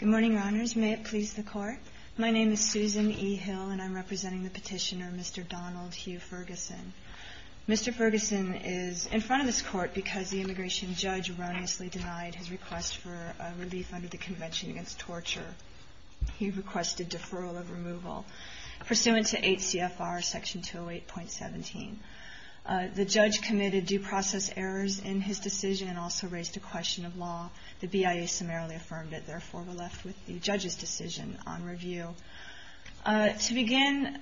Good morning, Your Honors. May it please the Court. My name is Susan E. Hill, and I'm representing the petitioner, Mr. Donald Hugh Ferguson. Mr. Ferguson is in front of this Court because the immigration judge erroneously denied his request for relief under the Convention Against Torture. He requested deferral of removal pursuant to 8 CFR Section 208.17. The judge committed due process errors in his decision and also raised a question of law. The BIA summarily affirmed it. Therefore, we're left with the judge's decision on review. To begin,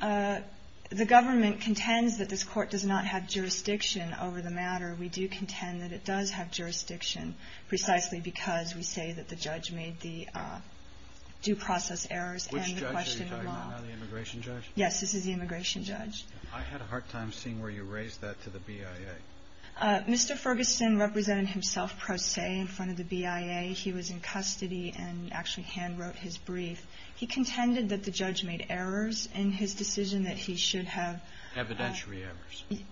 the government contends that this Court does not have jurisdiction over the matter. We do contend that it does have jurisdiction precisely because we say that the judge made the due process errors and the question of law. Which judge are you talking about now, the immigration judge? Yes, this is the immigration judge. I had a hard time seeing where you raised that to the BIA. Mr. Ferguson represented himself pro se in front of the BIA. He was in custody and actually handwrote his brief. He contended that the judge made errors in his decision that he should have ---- Evidentiary errors.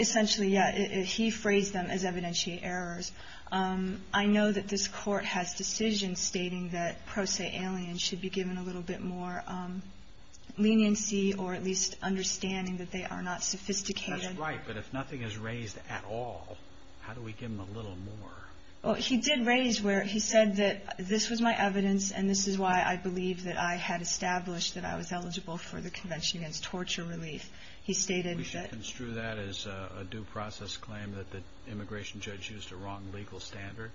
Essentially, yes. He phrased them as evidentiary errors. I know that this Court has decisions stating that pro se aliens should be given a little bit more leniency or at least understanding that they are not sophisticated. That's right, but if nothing is raised at all, how do we give them a little more? He did raise where he said that this was my evidence and this is why I believe that I had established that I was eligible for the Convention Against Torture Relief. He stated that We should construe that as a due process claim that the immigration judge used a wrong legal standard?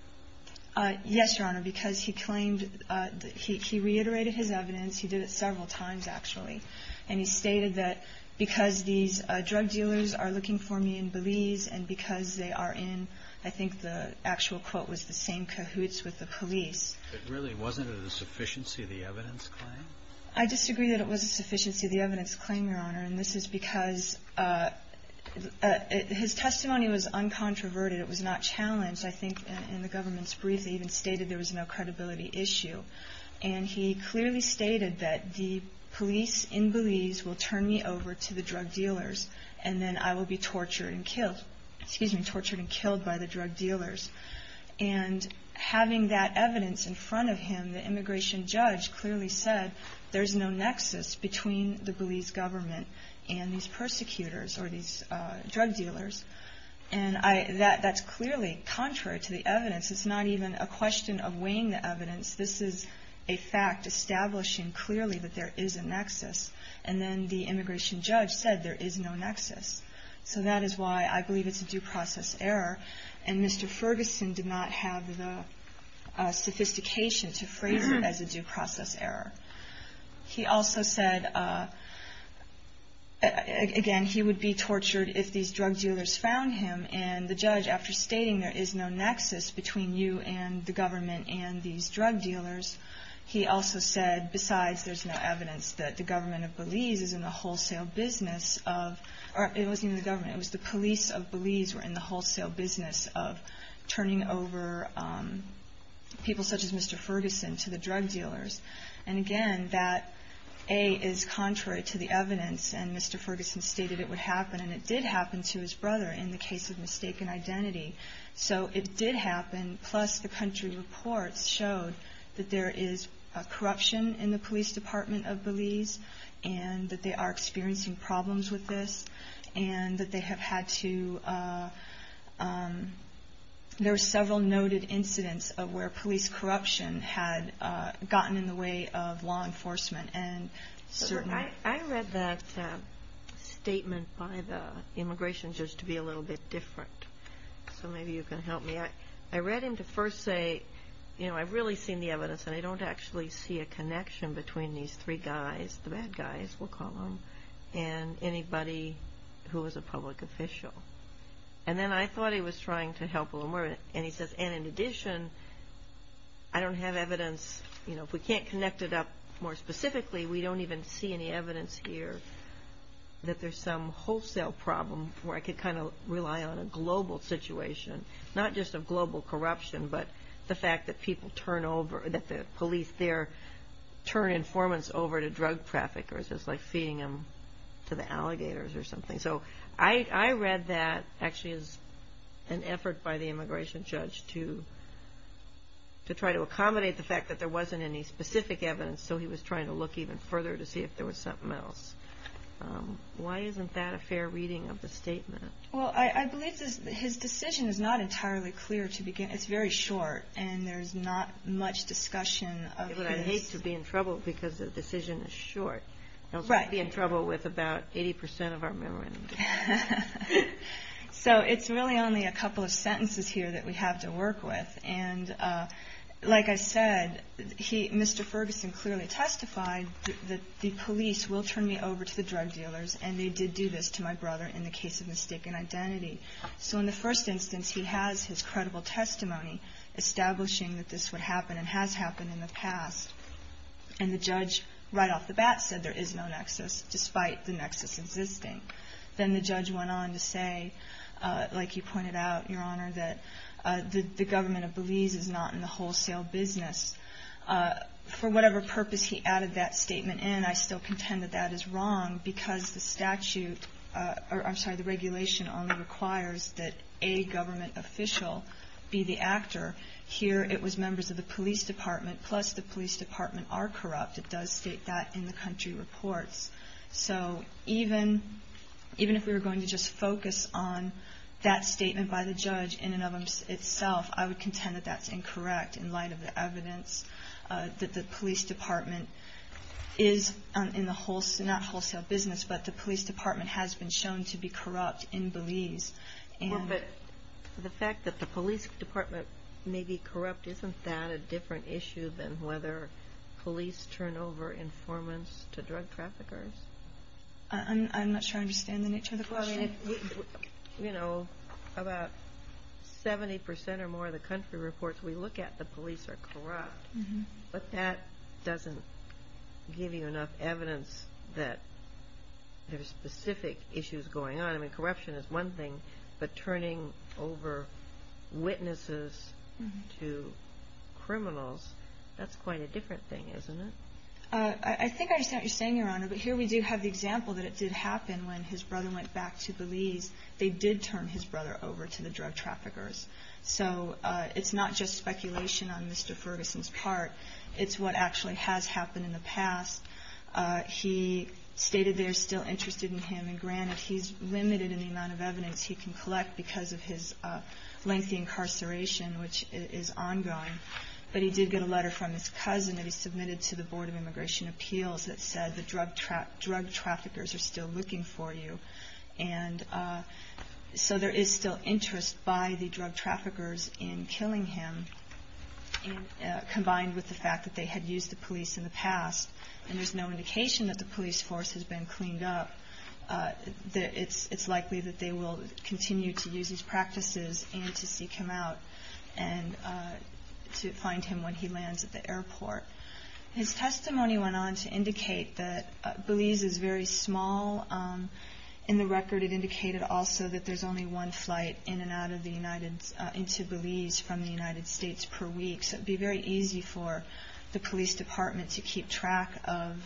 Yes, Your Honor, because he claimed that he reiterated his evidence. He did it several times, actually. And he stated that because these drug dealers are looking for me in Belize and because they are in, I think the actual quote was the same cahoots with the police. But really, wasn't it a sufficiency of the evidence claim? I disagree that it was a sufficiency of the evidence claim, Your Honor, and this is because his testimony was uncontroverted. It was not challenged. I think in the government's brief, he even stated there was no credibility issue. And he clearly stated that the police in Belize will turn me over to the drug dealers and then I will be tortured and killed by the drug dealers. And having that evidence in front of him, the immigration judge clearly said there is no nexus between the Belize government and these persecutors or these drug dealers. And that's clearly contrary to the evidence. It's not even a question of weighing the evidence. This is a fact establishing clearly that there is a nexus. And then the immigration judge said there is no nexus. So that is why I believe it's a due process error. And Mr. Ferguson did not have the sophistication to phrase it as a due process error. He also said, again, he would be tortured if these drug dealers found him. And the judge, after stating there is no nexus between you and the government and these drug dealers, he also said, besides there's no evidence that the government of Belize is in the wholesale business of or it wasn't even the government. It was the police of Belize were in the wholesale business of turning over people such as Mr. Ferguson to the drug dealers. And again, that, A, is contrary to the evidence. And Mr. Ferguson stated it would So it did happen. Plus, the country reports showed that there is corruption in the police department of Belize, and that they are experiencing problems with this, and that they have had to, there are several noted incidents of where police corruption had gotten in the way of law enforcement. And certainly I read that statement by the immigration judge to be a little bit different. So maybe you can help me. I read him to first say, you know, I've really seen the evidence, and I don't actually see a connection between these three guys, the bad guys, we'll call them, and anybody who was a public official. And then I thought he was trying to help a little more. And he says, and in addition, I don't have evidence, you know, if we can't connect it up more specifically, we don't even see any evidence here that there's some wholesale problem where I could kind of rely on a global situation, not just of global corruption, but the fact that people turn over, that the police there turn informants over to drug traffickers. It's like feeding them to the alligators or something. So I read that actually as an effort by the immigration judge to try to get specific evidence. So he was trying to look even further to see if there was something else. Why isn't that a fair reading of the statement? Well, I believe his decision is not entirely clear to begin with. It's very short, and there's not much discussion of this. But I'd hate to be in trouble because the decision is short. I'd be in trouble with about 80 percent of our memorandum. So it's really only a couple of sentences here that we have to work with. And like I said, Mr. Ferguson clearly testified that the police will turn me over to the drug dealers, and they did do this to my brother in the case of mistaken identity. So in the first instance, he has his credible testimony establishing that this would happen and has happened in the past. And the judge right off the bat said there is no nexus, despite the nexus existing. Then the judge went on to say, like you pointed out, Your Honor, that the government of Belize is not in the wholesale business. For whatever purpose he added that statement in, I still contend that that is wrong because the statute or, I'm sorry, the regulation only requires that a government official be the actor. Here, it was members of the police department, plus the police department are corrupt. It does state that in the country reports. So even if we were going to just focus on that statement by the judge in and of itself, I would contend that that's incorrect in light of the evidence that the police department is in the wholesale, not wholesale business, but the police department has been shown to be corrupt in Belize. Well, but the fact that the police department may be corrupt, isn't that a different issue than whether police turn over informants to drug traffickers? I'm not sure I understand the nature of the question. Well, I mean, you know, about 70 percent or more of the country reports we look at, the police are corrupt. But that doesn't give you enough evidence that there's specific issues going on. I mean, corruption is one thing, but turning over witnesses to criminals, that's quite a different thing, isn't it? I think I understand what you're saying, Your Honor, but here we do have the fact that what happened when his brother went back to Belize, they did turn his brother over to the drug traffickers. So it's not just speculation on Mr. Ferguson's part. It's what actually has happened in the past. He stated they're still interested in him. And granted, he's limited in the amount of evidence he can collect because of his lengthy incarceration, which is ongoing. But he did get a letter from his cousin that he submitted to the Board of Immigration Appeals that said the drug traffickers are still looking for you. And so there is still interest by the drug traffickers in killing him, combined with the fact that they had used the police in the past. And there's no indication that the police force has been cleaned up. It's likely that they will continue to use these practices and to seek him out and to find him when he lands at the airport. His testimony went on to indicate that Belize is very small. In the record, it indicated also that there's only one flight in and out of the United — into Belize from the United States per week. So it would be very easy for the police department to keep track of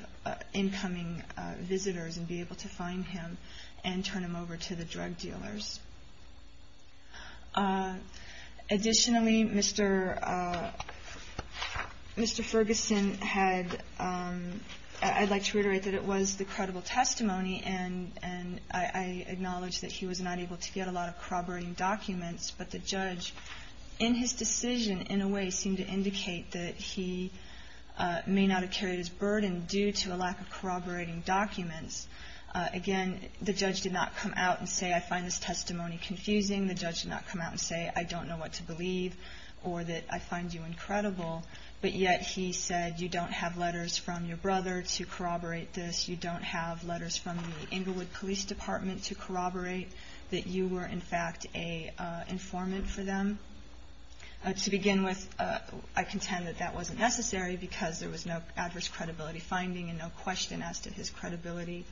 incoming visitors and be able to find him and turn him over to the drug dealers. Additionally, Mr. Ferguson had — I'd like to reiterate that it was the credible testimony. And I acknowledge that he was not able to get a lot of corroborating documents. But the judge, in his decision, in a way seemed to indicate that he may not have carried his burden due to a lack of corroborating documents. Again, the judge did not come out and say, I find this testimony confusing. The judge did not come out and say, I don't know what to believe or that I find you incredible. But yet he said, you don't have letters from your brother to corroborate this. You don't have letters from the Inglewood Police Department to corroborate that you were, in fact, an informant for them. To begin with, I contend that that wasn't necessary because there was no adverse credibility finding and no question as to his credibility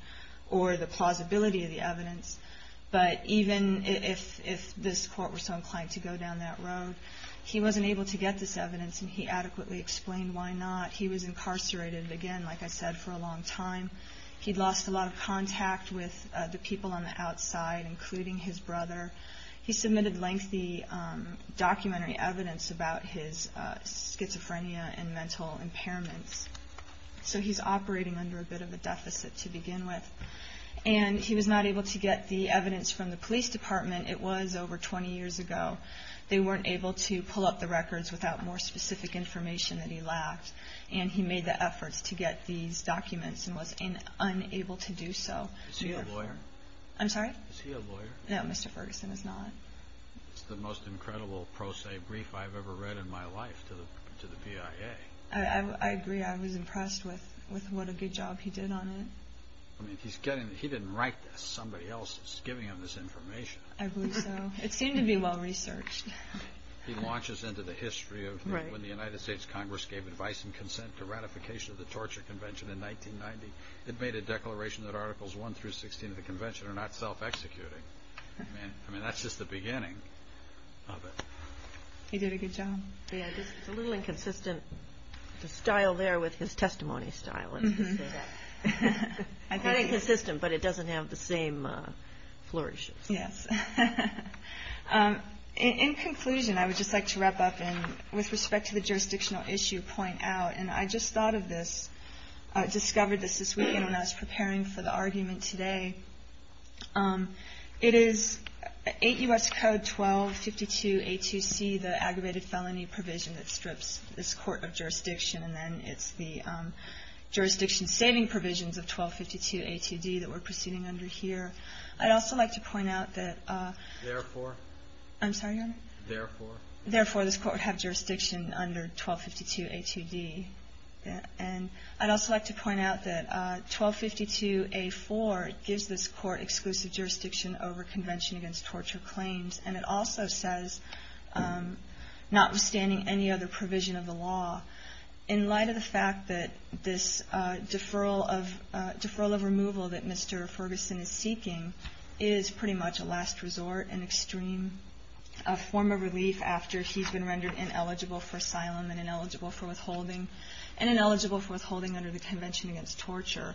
or the plausibility of the evidence. But even if this court were so inclined to go down that road, he wasn't able to get this evidence and he adequately explained why not. He was incarcerated, again, like I said, for a long time. He'd lost a lot of contact with the people on the outside, including his brother. He submitted lengthy documentary evidence about his schizophrenia and mental impairments. So he's not able to get the evidence from the police department. It was over 20 years ago. They weren't able to pull up the records without more specific information that he lacked. And he made the efforts to get these documents and was unable to do so. Is he a lawyer? I'm sorry? Is he a lawyer? No, Mr. Ferguson is not. It's the most incredible pro se brief I've ever read in my life to the BIA. I agree. I was impressed with what a good job he did on it. He didn't write this. Somebody else is giving him this information. I believe so. It seemed to be well researched. He launches into the history of when the United States Congress gave advice and consent to ratification of the Torture Convention in 1990. It made a declaration that Articles 1 through 16 of the Convention are not self-executing. I mean, that's just the beginning of it. He did a good job. It's a little inconsistent, the style there with his testimony style. I think it's consistent, but it doesn't have the same flourishes. Yes. In conclusion, I would just like to wrap up and with respect to the jurisdictional issue point out, and I just thought of this, discovered this this weekend when I was preparing for the argument today. It is 8 U.S. Code 1252A2C, the aggravated felony provision that strips this court of jurisdiction-saving provisions of 1252A2D that we're proceeding under here. I'd also like to point out that... Therefore. I'm sorry, Your Honor? Therefore. Therefore, this court would have jurisdiction under 1252A2D. And I'd also like to point out that 1252A4 gives this court exclusive jurisdiction over Convention Against Torture Claims, and it also says, notwithstanding any other provision of the law, in light of the fact that this deferral of removal that Mr. Ferguson is seeking is pretty much a last resort, an extreme form of relief after he's been rendered ineligible for asylum and ineligible for withholding, and ineligible for withholding under the Convention Against Torture.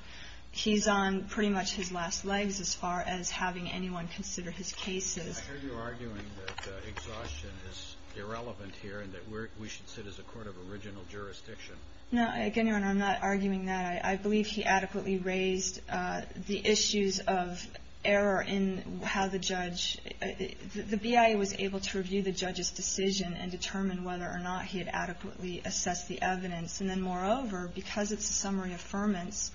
He's on pretty much his last legs as far as having anyone consider his cases. I hear you arguing that exhaustion is irrelevant here and that we should sit as a court of original jurisdiction. No. Again, Your Honor, I'm not arguing that. I believe he adequately raised the issues of error in how the judge – the BIA was able to review the judge's decision and determine whether or not he had adequately assessed the evidence. And then, moreover, because it's a summary affirmance,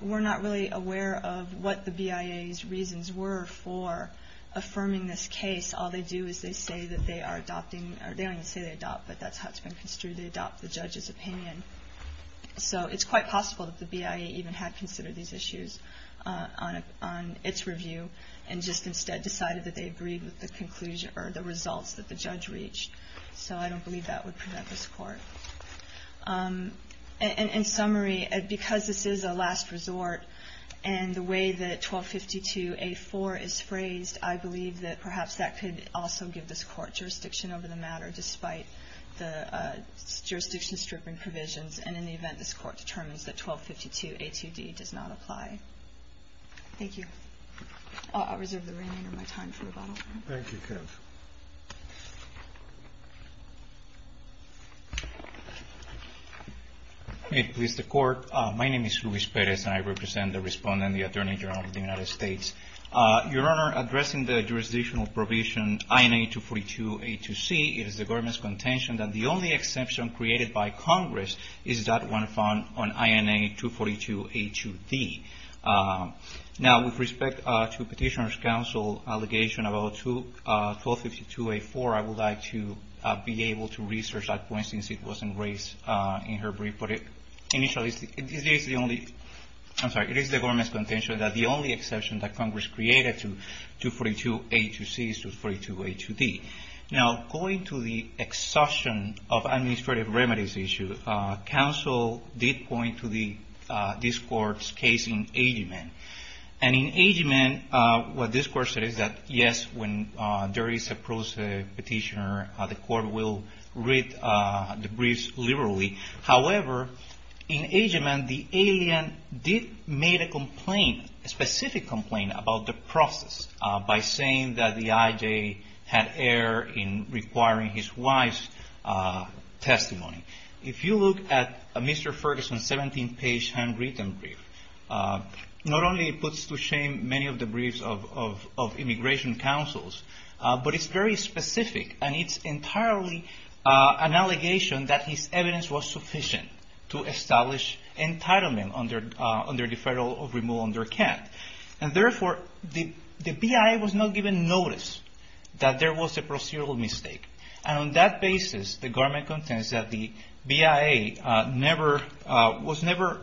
we're not really aware of what the BIA's reasons were for affirming this case. All they do is they say that they are adopting – or they don't even say they adopt, but that's how it's been construed. They adopt the judge's opinion. So it's quite possible that the BIA even had considered these issues on its review and just instead decided that they agreed with the conclusion or the results that the judge reached. So I don't believe that would prevent this court. In summary, because this is a last resort and the way that 1252A4 is phrased, I would also give this court jurisdiction over the matter despite the jurisdiction stripping provisions. And in the event, this court determines that 1252A2D does not apply. Thank you. I'll reserve the remainder of my time for rebuttal. Thank you, Kev. May it please the Court. My name is Luis Perez, and I represent the Respondent and the Attorney General of the United States. Your Honor, addressing the jurisdictional provision INA 242A2C, it is the government's contention that the only exception created by Congress is that one found on INA 242A2D. Now, with respect to Petitioner's Counsel's allegation about 1252A4, I would like to be able to research that point since it wasn't raised in her brief. But initially, it is the only – I'm sorry, it is the government's contention that the only exception that Congress created to 242A2C is 242A2D. Now, going to the exhaustion of administrative remedies issue, counsel did point to this Court's case in Agyeman. And in Agyeman, what this Court said is that, yes, when there is a prose petitioner, the Court will read the briefs liberally. However, in Agyeman, the alien did make a complaint, a specific complaint, about the process by saying that the IJ had error in requiring his wife's testimony. If you look at Mr. Ferguson's 17-page handwritten brief, not only it puts to shame many of the briefs of immigration counsels, but it's very specific. And it's entirely an allegation that his evidence was sufficient to establish entitlement under deferral of removal under Kent. And therefore, the BIA was not given notice that there was a procedural mistake. And on that basis, the government contends that the BIA was never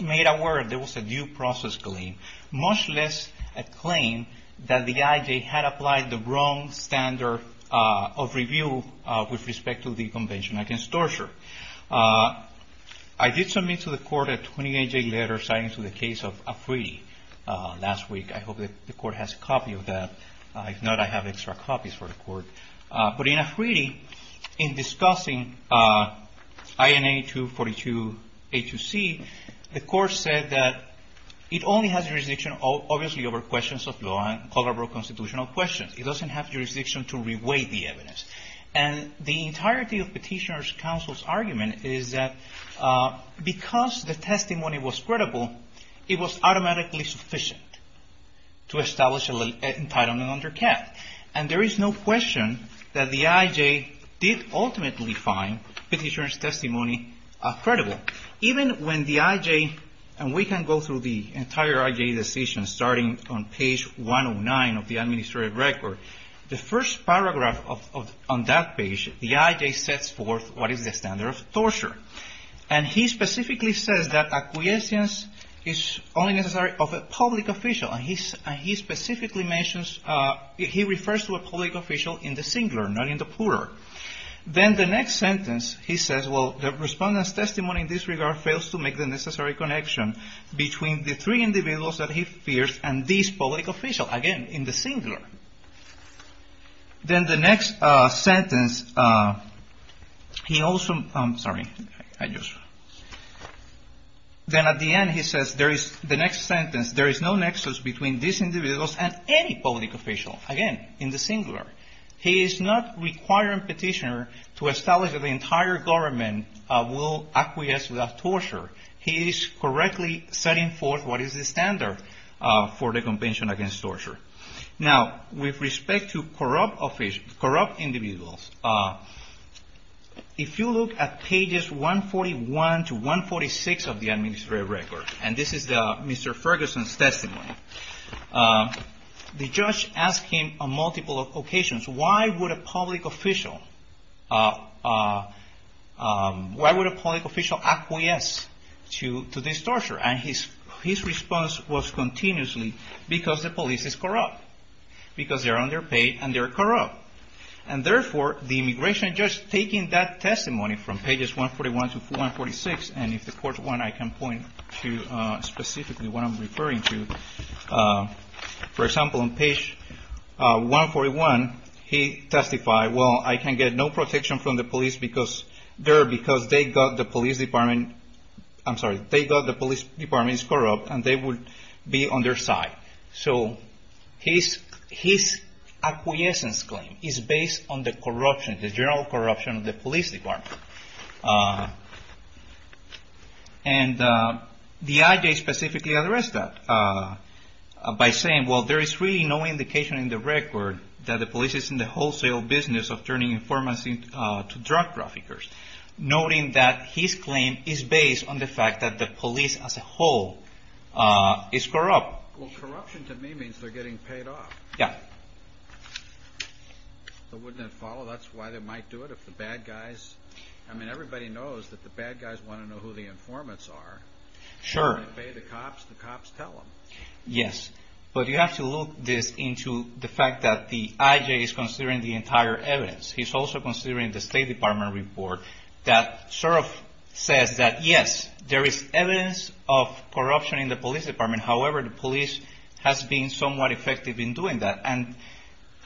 made aware there was a due process claim, much less a claim that the IJ had applied the wrong standard of review with respect to the Convention against Torture. I did submit to the Court a 28-page letter citing to the case of Afridi last week. I hope the Court has a copy of that. If not, I have extra copies for the Court. But in Afridi, in discussing INA 242-A2C, the Court said that it only has a restriction obviously over questions of law and honorable constitutional questions. It doesn't have jurisdiction to reweigh the evidence. And the entirety of Petitioner's counsel's argument is that because the testimony was credible, it was automatically sufficient to establish entitlement under Kent. And there is no question that the IJ did ultimately find Petitioner's testimony credible. Even when the IJ, and we can go through the entire IJ decision starting on page 109 of the administrative record, the first paragraph on that page, the IJ sets forth what is the standard of torture. And he specifically says that acquiescence is only necessary of a public official. And he specifically mentions, he refers to a public official in the singular, not in the plural. Then the next sentence, he says, well, the Respondent's testimony in this regard fails to make the necessary connection between the three individuals that he fears and this public official, again, in the singular. Then the next sentence, he also, I'm sorry, I just, then at the end, he says, there is, the next sentence, there is no nexus between these individuals and any public official, again, in the singular. He is not requiring Petitioner to establish that the entire government will acquiesce without torture. He is correctly setting forth what is the standard for the Convention Against Torture. Now, with respect to corrupt officials, corrupt individuals, if you look at pages 141 to 146 of the administrative record, and this is Mr. Ferguson's testimony, the judge asked him on multiple occasions, why would a public official, why would a public official acquiesce to this torture? And his response was continuously, because the police is corrupt. Because they're underpaid and they're corrupt. And therefore, the immigration judge, taking that testimony from pages 141 to 146, and if the court want, I can point to specifically what I'm referring to. For example, on page 141, he testified, well, I can get no protection from the police because they're, because they got the police department, I'm sorry, they got the police department is corrupt and they would be on their side. So his acquiescence claim is based on the corruption, the general corruption of the police. And the IJ specifically addressed that by saying, well, there is really no indication in the record that the police is in the wholesale business of turning informants into drug traffickers. Noting that his claim is based on the fact that the police as a whole is corrupt. Well, corruption to me means they're getting paid off. Yeah. So wouldn't it follow, that's why they might do it if the bad guys, I mean, everybody knows that the bad guys want to know who the informants are. Sure. The cops, the cops tell them. Yes. But you have to look this into the fact that the IJ is considering the entire evidence. He's also considering the State Department report that sort of says that, yes, there is evidence of corruption in the police department. However, the police has been somewhat effective in doing that. And,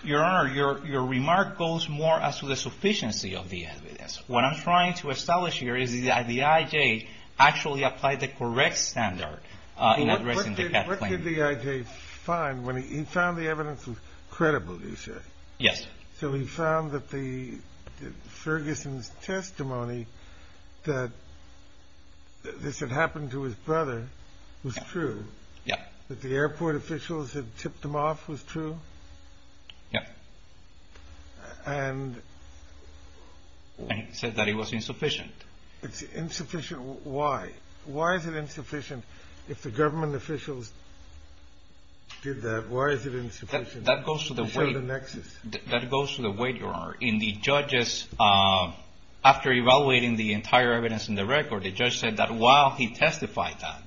Your Honor, your remark goes more as to the sufficiency of the evidence. What I'm trying to establish here is the IJ actually applied the correct standard. What did the IJ find when he found the evidence was credible, you say? Yes. So he found that Ferguson's testimony that this had happened to his brother was true? Yeah. That the airport officials had tipped him off was true? Yeah. And he said that it was insufficient? It's insufficient. Why? Why is it insufficient? If the government officials did that, why is it insufficient? That goes to the weight, Your Honor. In the judges, after evaluating the entire evidence in the record, the judge said that while he testified that,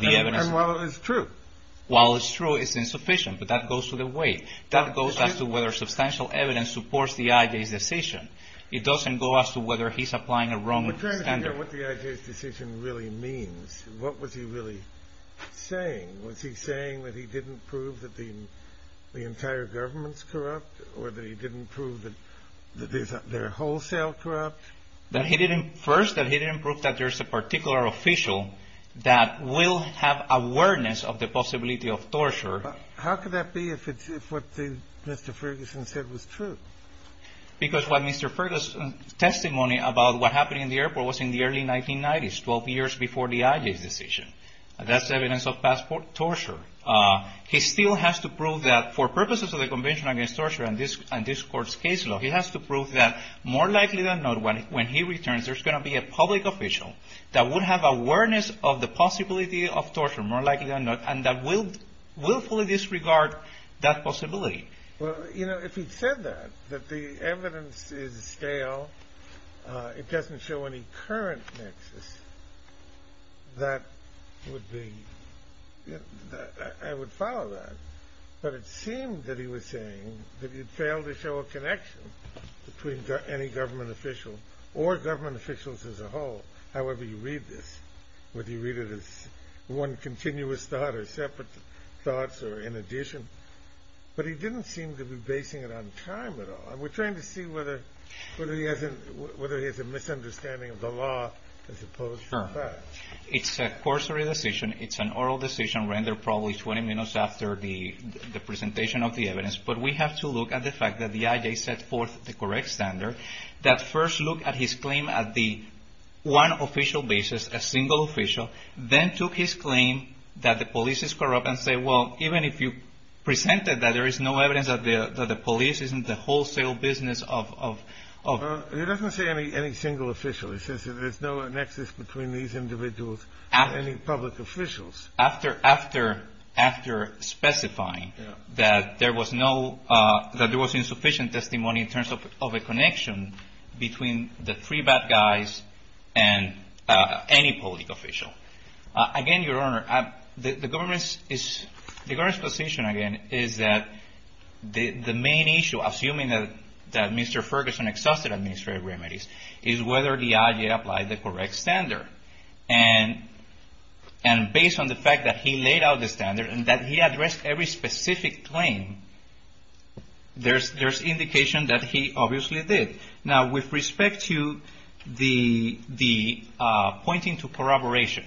the evidence And while it was true? While it's true, it's insufficient. But that goes to the weight. That goes as to whether substantial evidence supports the IJ's decision. It doesn't go as to whether he's applying a wrong standard. I'm trying to figure out what the IJ's decision really means. What was he really saying? Was he saying that he didn't prove that the entire government's corrupt? Or that he didn't prove that they're wholesale corrupt? First, that he didn't prove that there's a particular official that will have awareness of the possibility of torture. How could that be if what Mr. Ferguson said was true? Because what Mr. Ferguson's testimony about what happened in the airport was in the early 1990s, 12 years before the IJ's decision. That's evidence of past torture. He still has to prove that, for purposes of the Convention Against Torture and this Court's case law, he has to prove that, more likely than not, when he returns, there's going to be a public official that will have awareness of the possibility of torture, more likely than not, and that will fully disregard that possibility. Well, you know, if he said that, that the evidence is stale, it doesn't show any current nexus, that would be – I would follow that. But it seemed that he was saying that he failed to show a connection between any government official or government officials as a whole. However you read this, whether you read it as one continuous thought or separate thoughts or in addition, but he didn't seem to be basing it on time at all. And we're trying to see whether he has a misunderstanding of the law as opposed to fact. Sure. It's a corsory decision. It's an oral decision rendered probably 20 minutes after the presentation of the evidence. But we have to look at the fact that the I.J. set forth the correct standard, that first look at his claim at the one official basis, a single official, then took his claim that the police is corrupt and say, well, even if you presented that there is no evidence that the police isn't the wholesale business of – He doesn't say any single official. He says that there's no nexus between these individuals and any public officials. After specifying that there was insufficient testimony in terms of a connection between the three bad guys and any public official. Again, Your Honor, the government's position again is that the main issue, assuming that Mr. Ferguson exhausted administrative remedies, is whether the I.J. applied the correct standard. And based on the fact that he laid out the standard and that he addressed every specific claim, there's indication that he obviously did. Now, with respect to the pointing to corroboration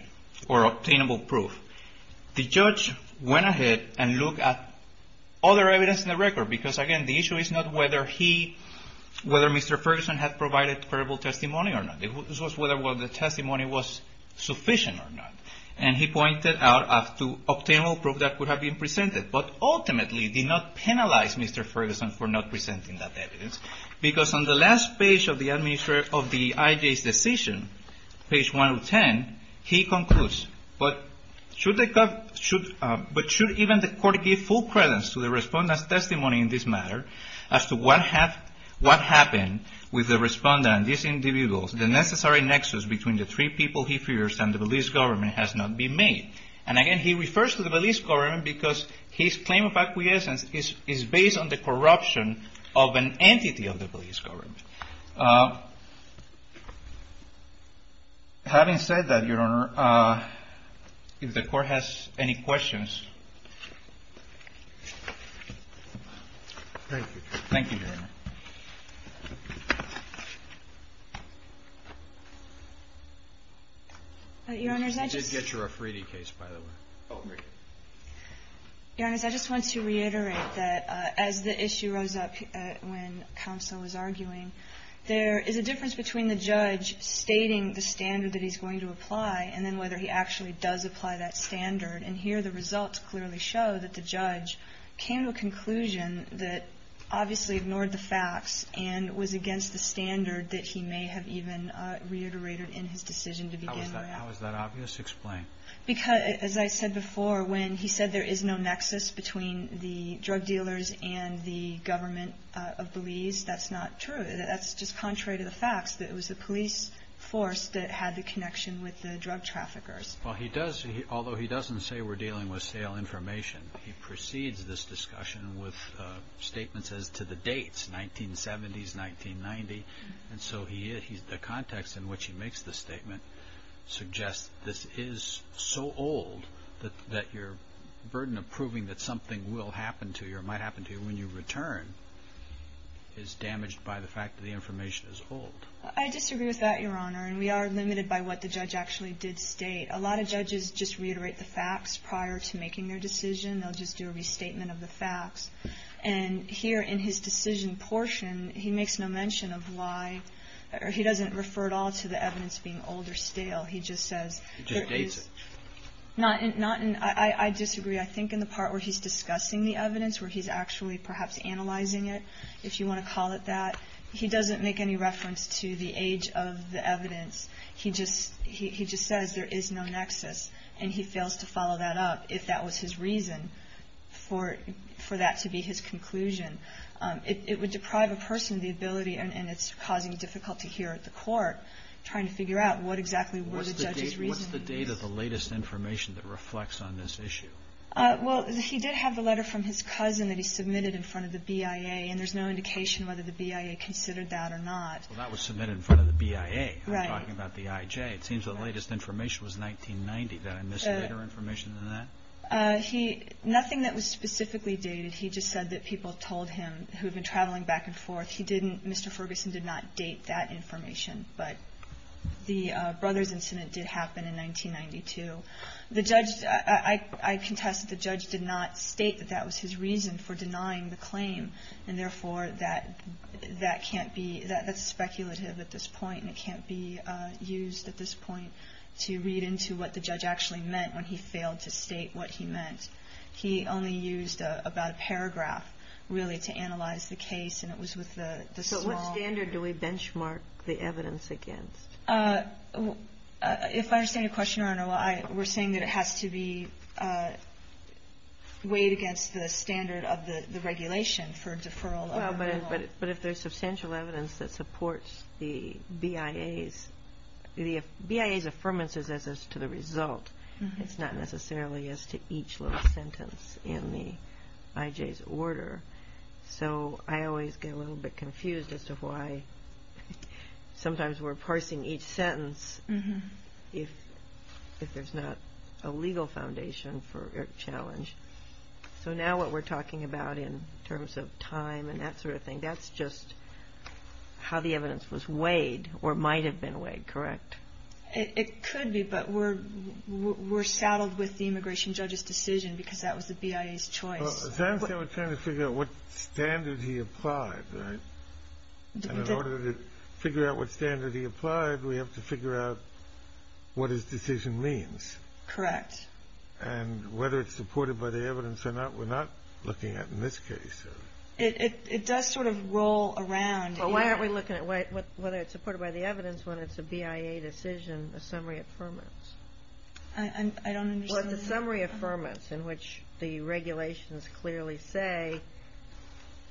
or obtainable proof, the judge went ahead and looked at other evidence in the record. Because, again, the issue is not whether he – whether Mr. Ferguson had provided credible testimony or not. This was whether the testimony was sufficient or not. And he pointed out to obtainable proof that could have been presented. But ultimately did not penalize Mr. Ferguson for not presenting that evidence. Because on the last page of the administrator of the I.J.'s decision, page 110, he concludes, but should even the court give full credence to the respondent's testimony in this matter as to what happened with the respondent, the necessary nexus between the three people he fears and the Belize government has not been made. And, again, he refers to the Belize government because his claim of acquiescence is based on the corruption of an entity of the Belize government. Having said that, Your Honor, if the Court has any questions. Thank you. Thank you, Your Honor. Your Honors, I just want to reiterate that as the issue rose up when counsel was arguing, there is a difference between the judge stating the standard that he's going to apply and then whether he actually does apply that standard. And I think it's important to note that the judge came to a conclusion that obviously ignored the facts and was against the standard that he may have even reiterated in his decision to begin with. How is that obvious? Explain. Because as I said before, when he said there is no nexus between the drug dealers and the government of Belize, that's not true. That's just contrary to the facts that it was the police force that had the connection with the drug traffickers. Well, he does, although he doesn't say we're dealing with stale information, he precedes this discussion with statements as to the dates, 1970s, 1990. And so the context in which he makes the statement suggests this is so old that your burden of proving that something will happen to you or might happen to you when you return is damaged by the fact that the information is old. I disagree with that, Your Honor. And we are limited by what the judge actually did state. A lot of judges just reiterate the facts prior to making their decision. They'll just do a restatement of the facts. And here in his decision portion, he makes no mention of why or he doesn't refer at all to the evidence being old or stale. He just says there is. He just dates it. I disagree. I think in the part where he's discussing the evidence, where he's actually perhaps analyzing it, if you want to call it that, he doesn't make any reference to the age of the evidence. He just says there is no nexus. And he fails to follow that up if that was his reason for that to be his conclusion. It would deprive a person of the ability, and it's causing difficulty here at the court, trying to figure out what exactly were the judge's reasons. What's the date of the latest information that reflects on this issue? Well, he did have the letter from his cousin that he submitted in front of the BIA. And there's no indication whether the BIA considered that or not. Well, that was submitted in front of the BIA. Right. I'm talking about the IJ. It seems the latest information was 1990. Did I miss later information than that? Nothing that was specifically dated. He just said that people told him who had been traveling back and forth. He didn't Mr. Ferguson did not date that information. But the Brothers incident did happen in 1992. The judge – I contest that the judge did not state that that was his reason for denying the claim. And, therefore, that can't be – that's speculative at this point, and it can't be used at this point to read into what the judge actually meant when he failed to state what he meant. He only used about a paragraph, really, to analyze the case. And it was with the small – So at what standard do we benchmark the evidence against? If I understand your question, Your Honor, we're saying that it has to be weighed against the standard of the regulation for deferral. But if there's substantial evidence that supports the BIA's – the BIA's affirmances as to the result, it's not necessarily as to each little sentence in the IJ's order. So I always get a little bit confused as to why sometimes we're parsing each sentence if there's not a legal foundation for challenge. So now what we're talking about in terms of time and that sort of thing, that's just how the evidence was weighed or might have been weighed, correct? It could be, but we're saddled with the immigration judge's decision because that was the BIA's choice. Well, as I understand, we're trying to figure out what standard he applied, right? And in order to figure out what standard he applied, we have to figure out what his decision means. Correct. And whether it's supported by the evidence or not, we're not looking at in this case. It does sort of roll around. Well, why aren't we looking at whether it's supported by the evidence when it's a BIA decision, a summary affirmance? I don't understand. Well, it's a summary affirmance in which the regulations clearly say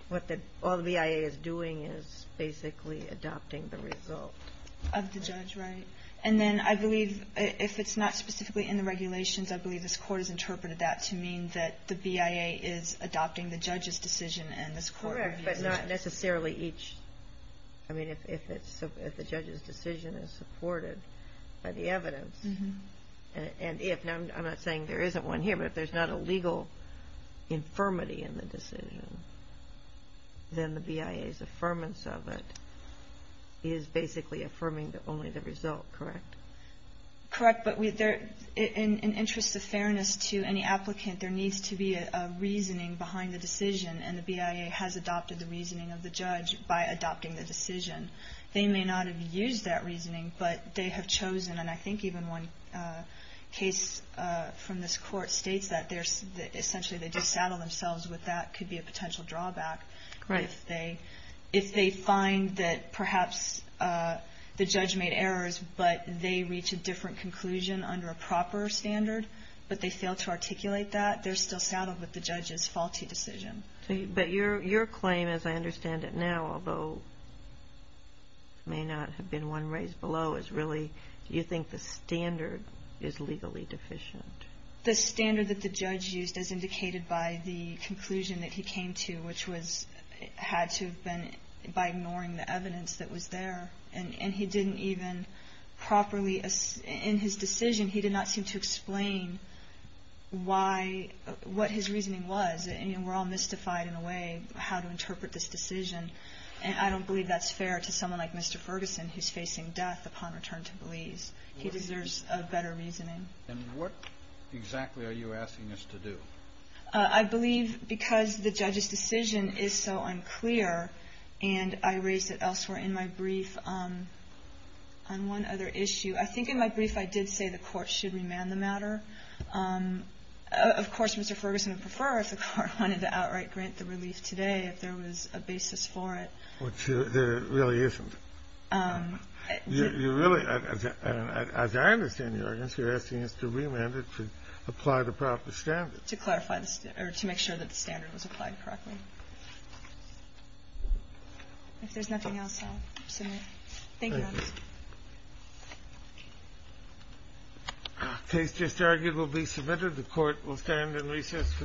what all the BIA is doing is basically adopting the result. Of the judge, right. And then I believe if it's not specifically in the regulations, I believe this Court has interpreted that to mean that the BIA is adopting the judge's decision and this Court reviews it. Correct, but not necessarily each. I mean, if the judge's decision is supported by the evidence. And I'm not saying there isn't one here, but if there's not a legal infirmity in the decision, then the BIA's affirmance of it is basically affirming only the result, correct? Correct, but in interest of fairness to any applicant, there needs to be a reasoning behind the decision, and the BIA has adopted the reasoning of the judge by adopting the decision. They may not have used that reasoning, but they have chosen, and I think even one case from this Court states that essentially they do saddle themselves with that could be a potential drawback. Right. If they find that perhaps the judge made errors, but they reach a different conclusion under a proper standard, but they fail to articulate that, they're still saddled with the judge's faulty decision. But your claim, as I understand it now, although it may not have been one raised below, is really do you think the standard is legally deficient? The standard that the judge used is indicated by the conclusion that he came to, which had to have been by ignoring the evidence that was there. And he didn't even properly in his decision, he did not seem to explain what his reasoning was. And we're all mystified in a way how to interpret this decision. And I don't believe that's fair to someone like Mr. Ferguson, who's facing death upon return to Belize. He deserves a better reasoning. And what exactly are you asking us to do? I believe because the judge's decision is so unclear, and I raised it elsewhere in my brief on one other issue. I think in my brief I did say the Court should remand the matter. Of course, Mr. Ferguson would prefer if the Court wanted to outright grant the relief today if there was a basis for it. Which there really isn't. You really, as I understand your argument, you're asking us to remand it to apply the proper standard. To clarify the standard, or to make sure that the standard was applied correctly. If there's nothing else, I'll submit. Thank you, Your Honor. Thank you. The case just argued will be submitted. The Court will stand in recess for the day.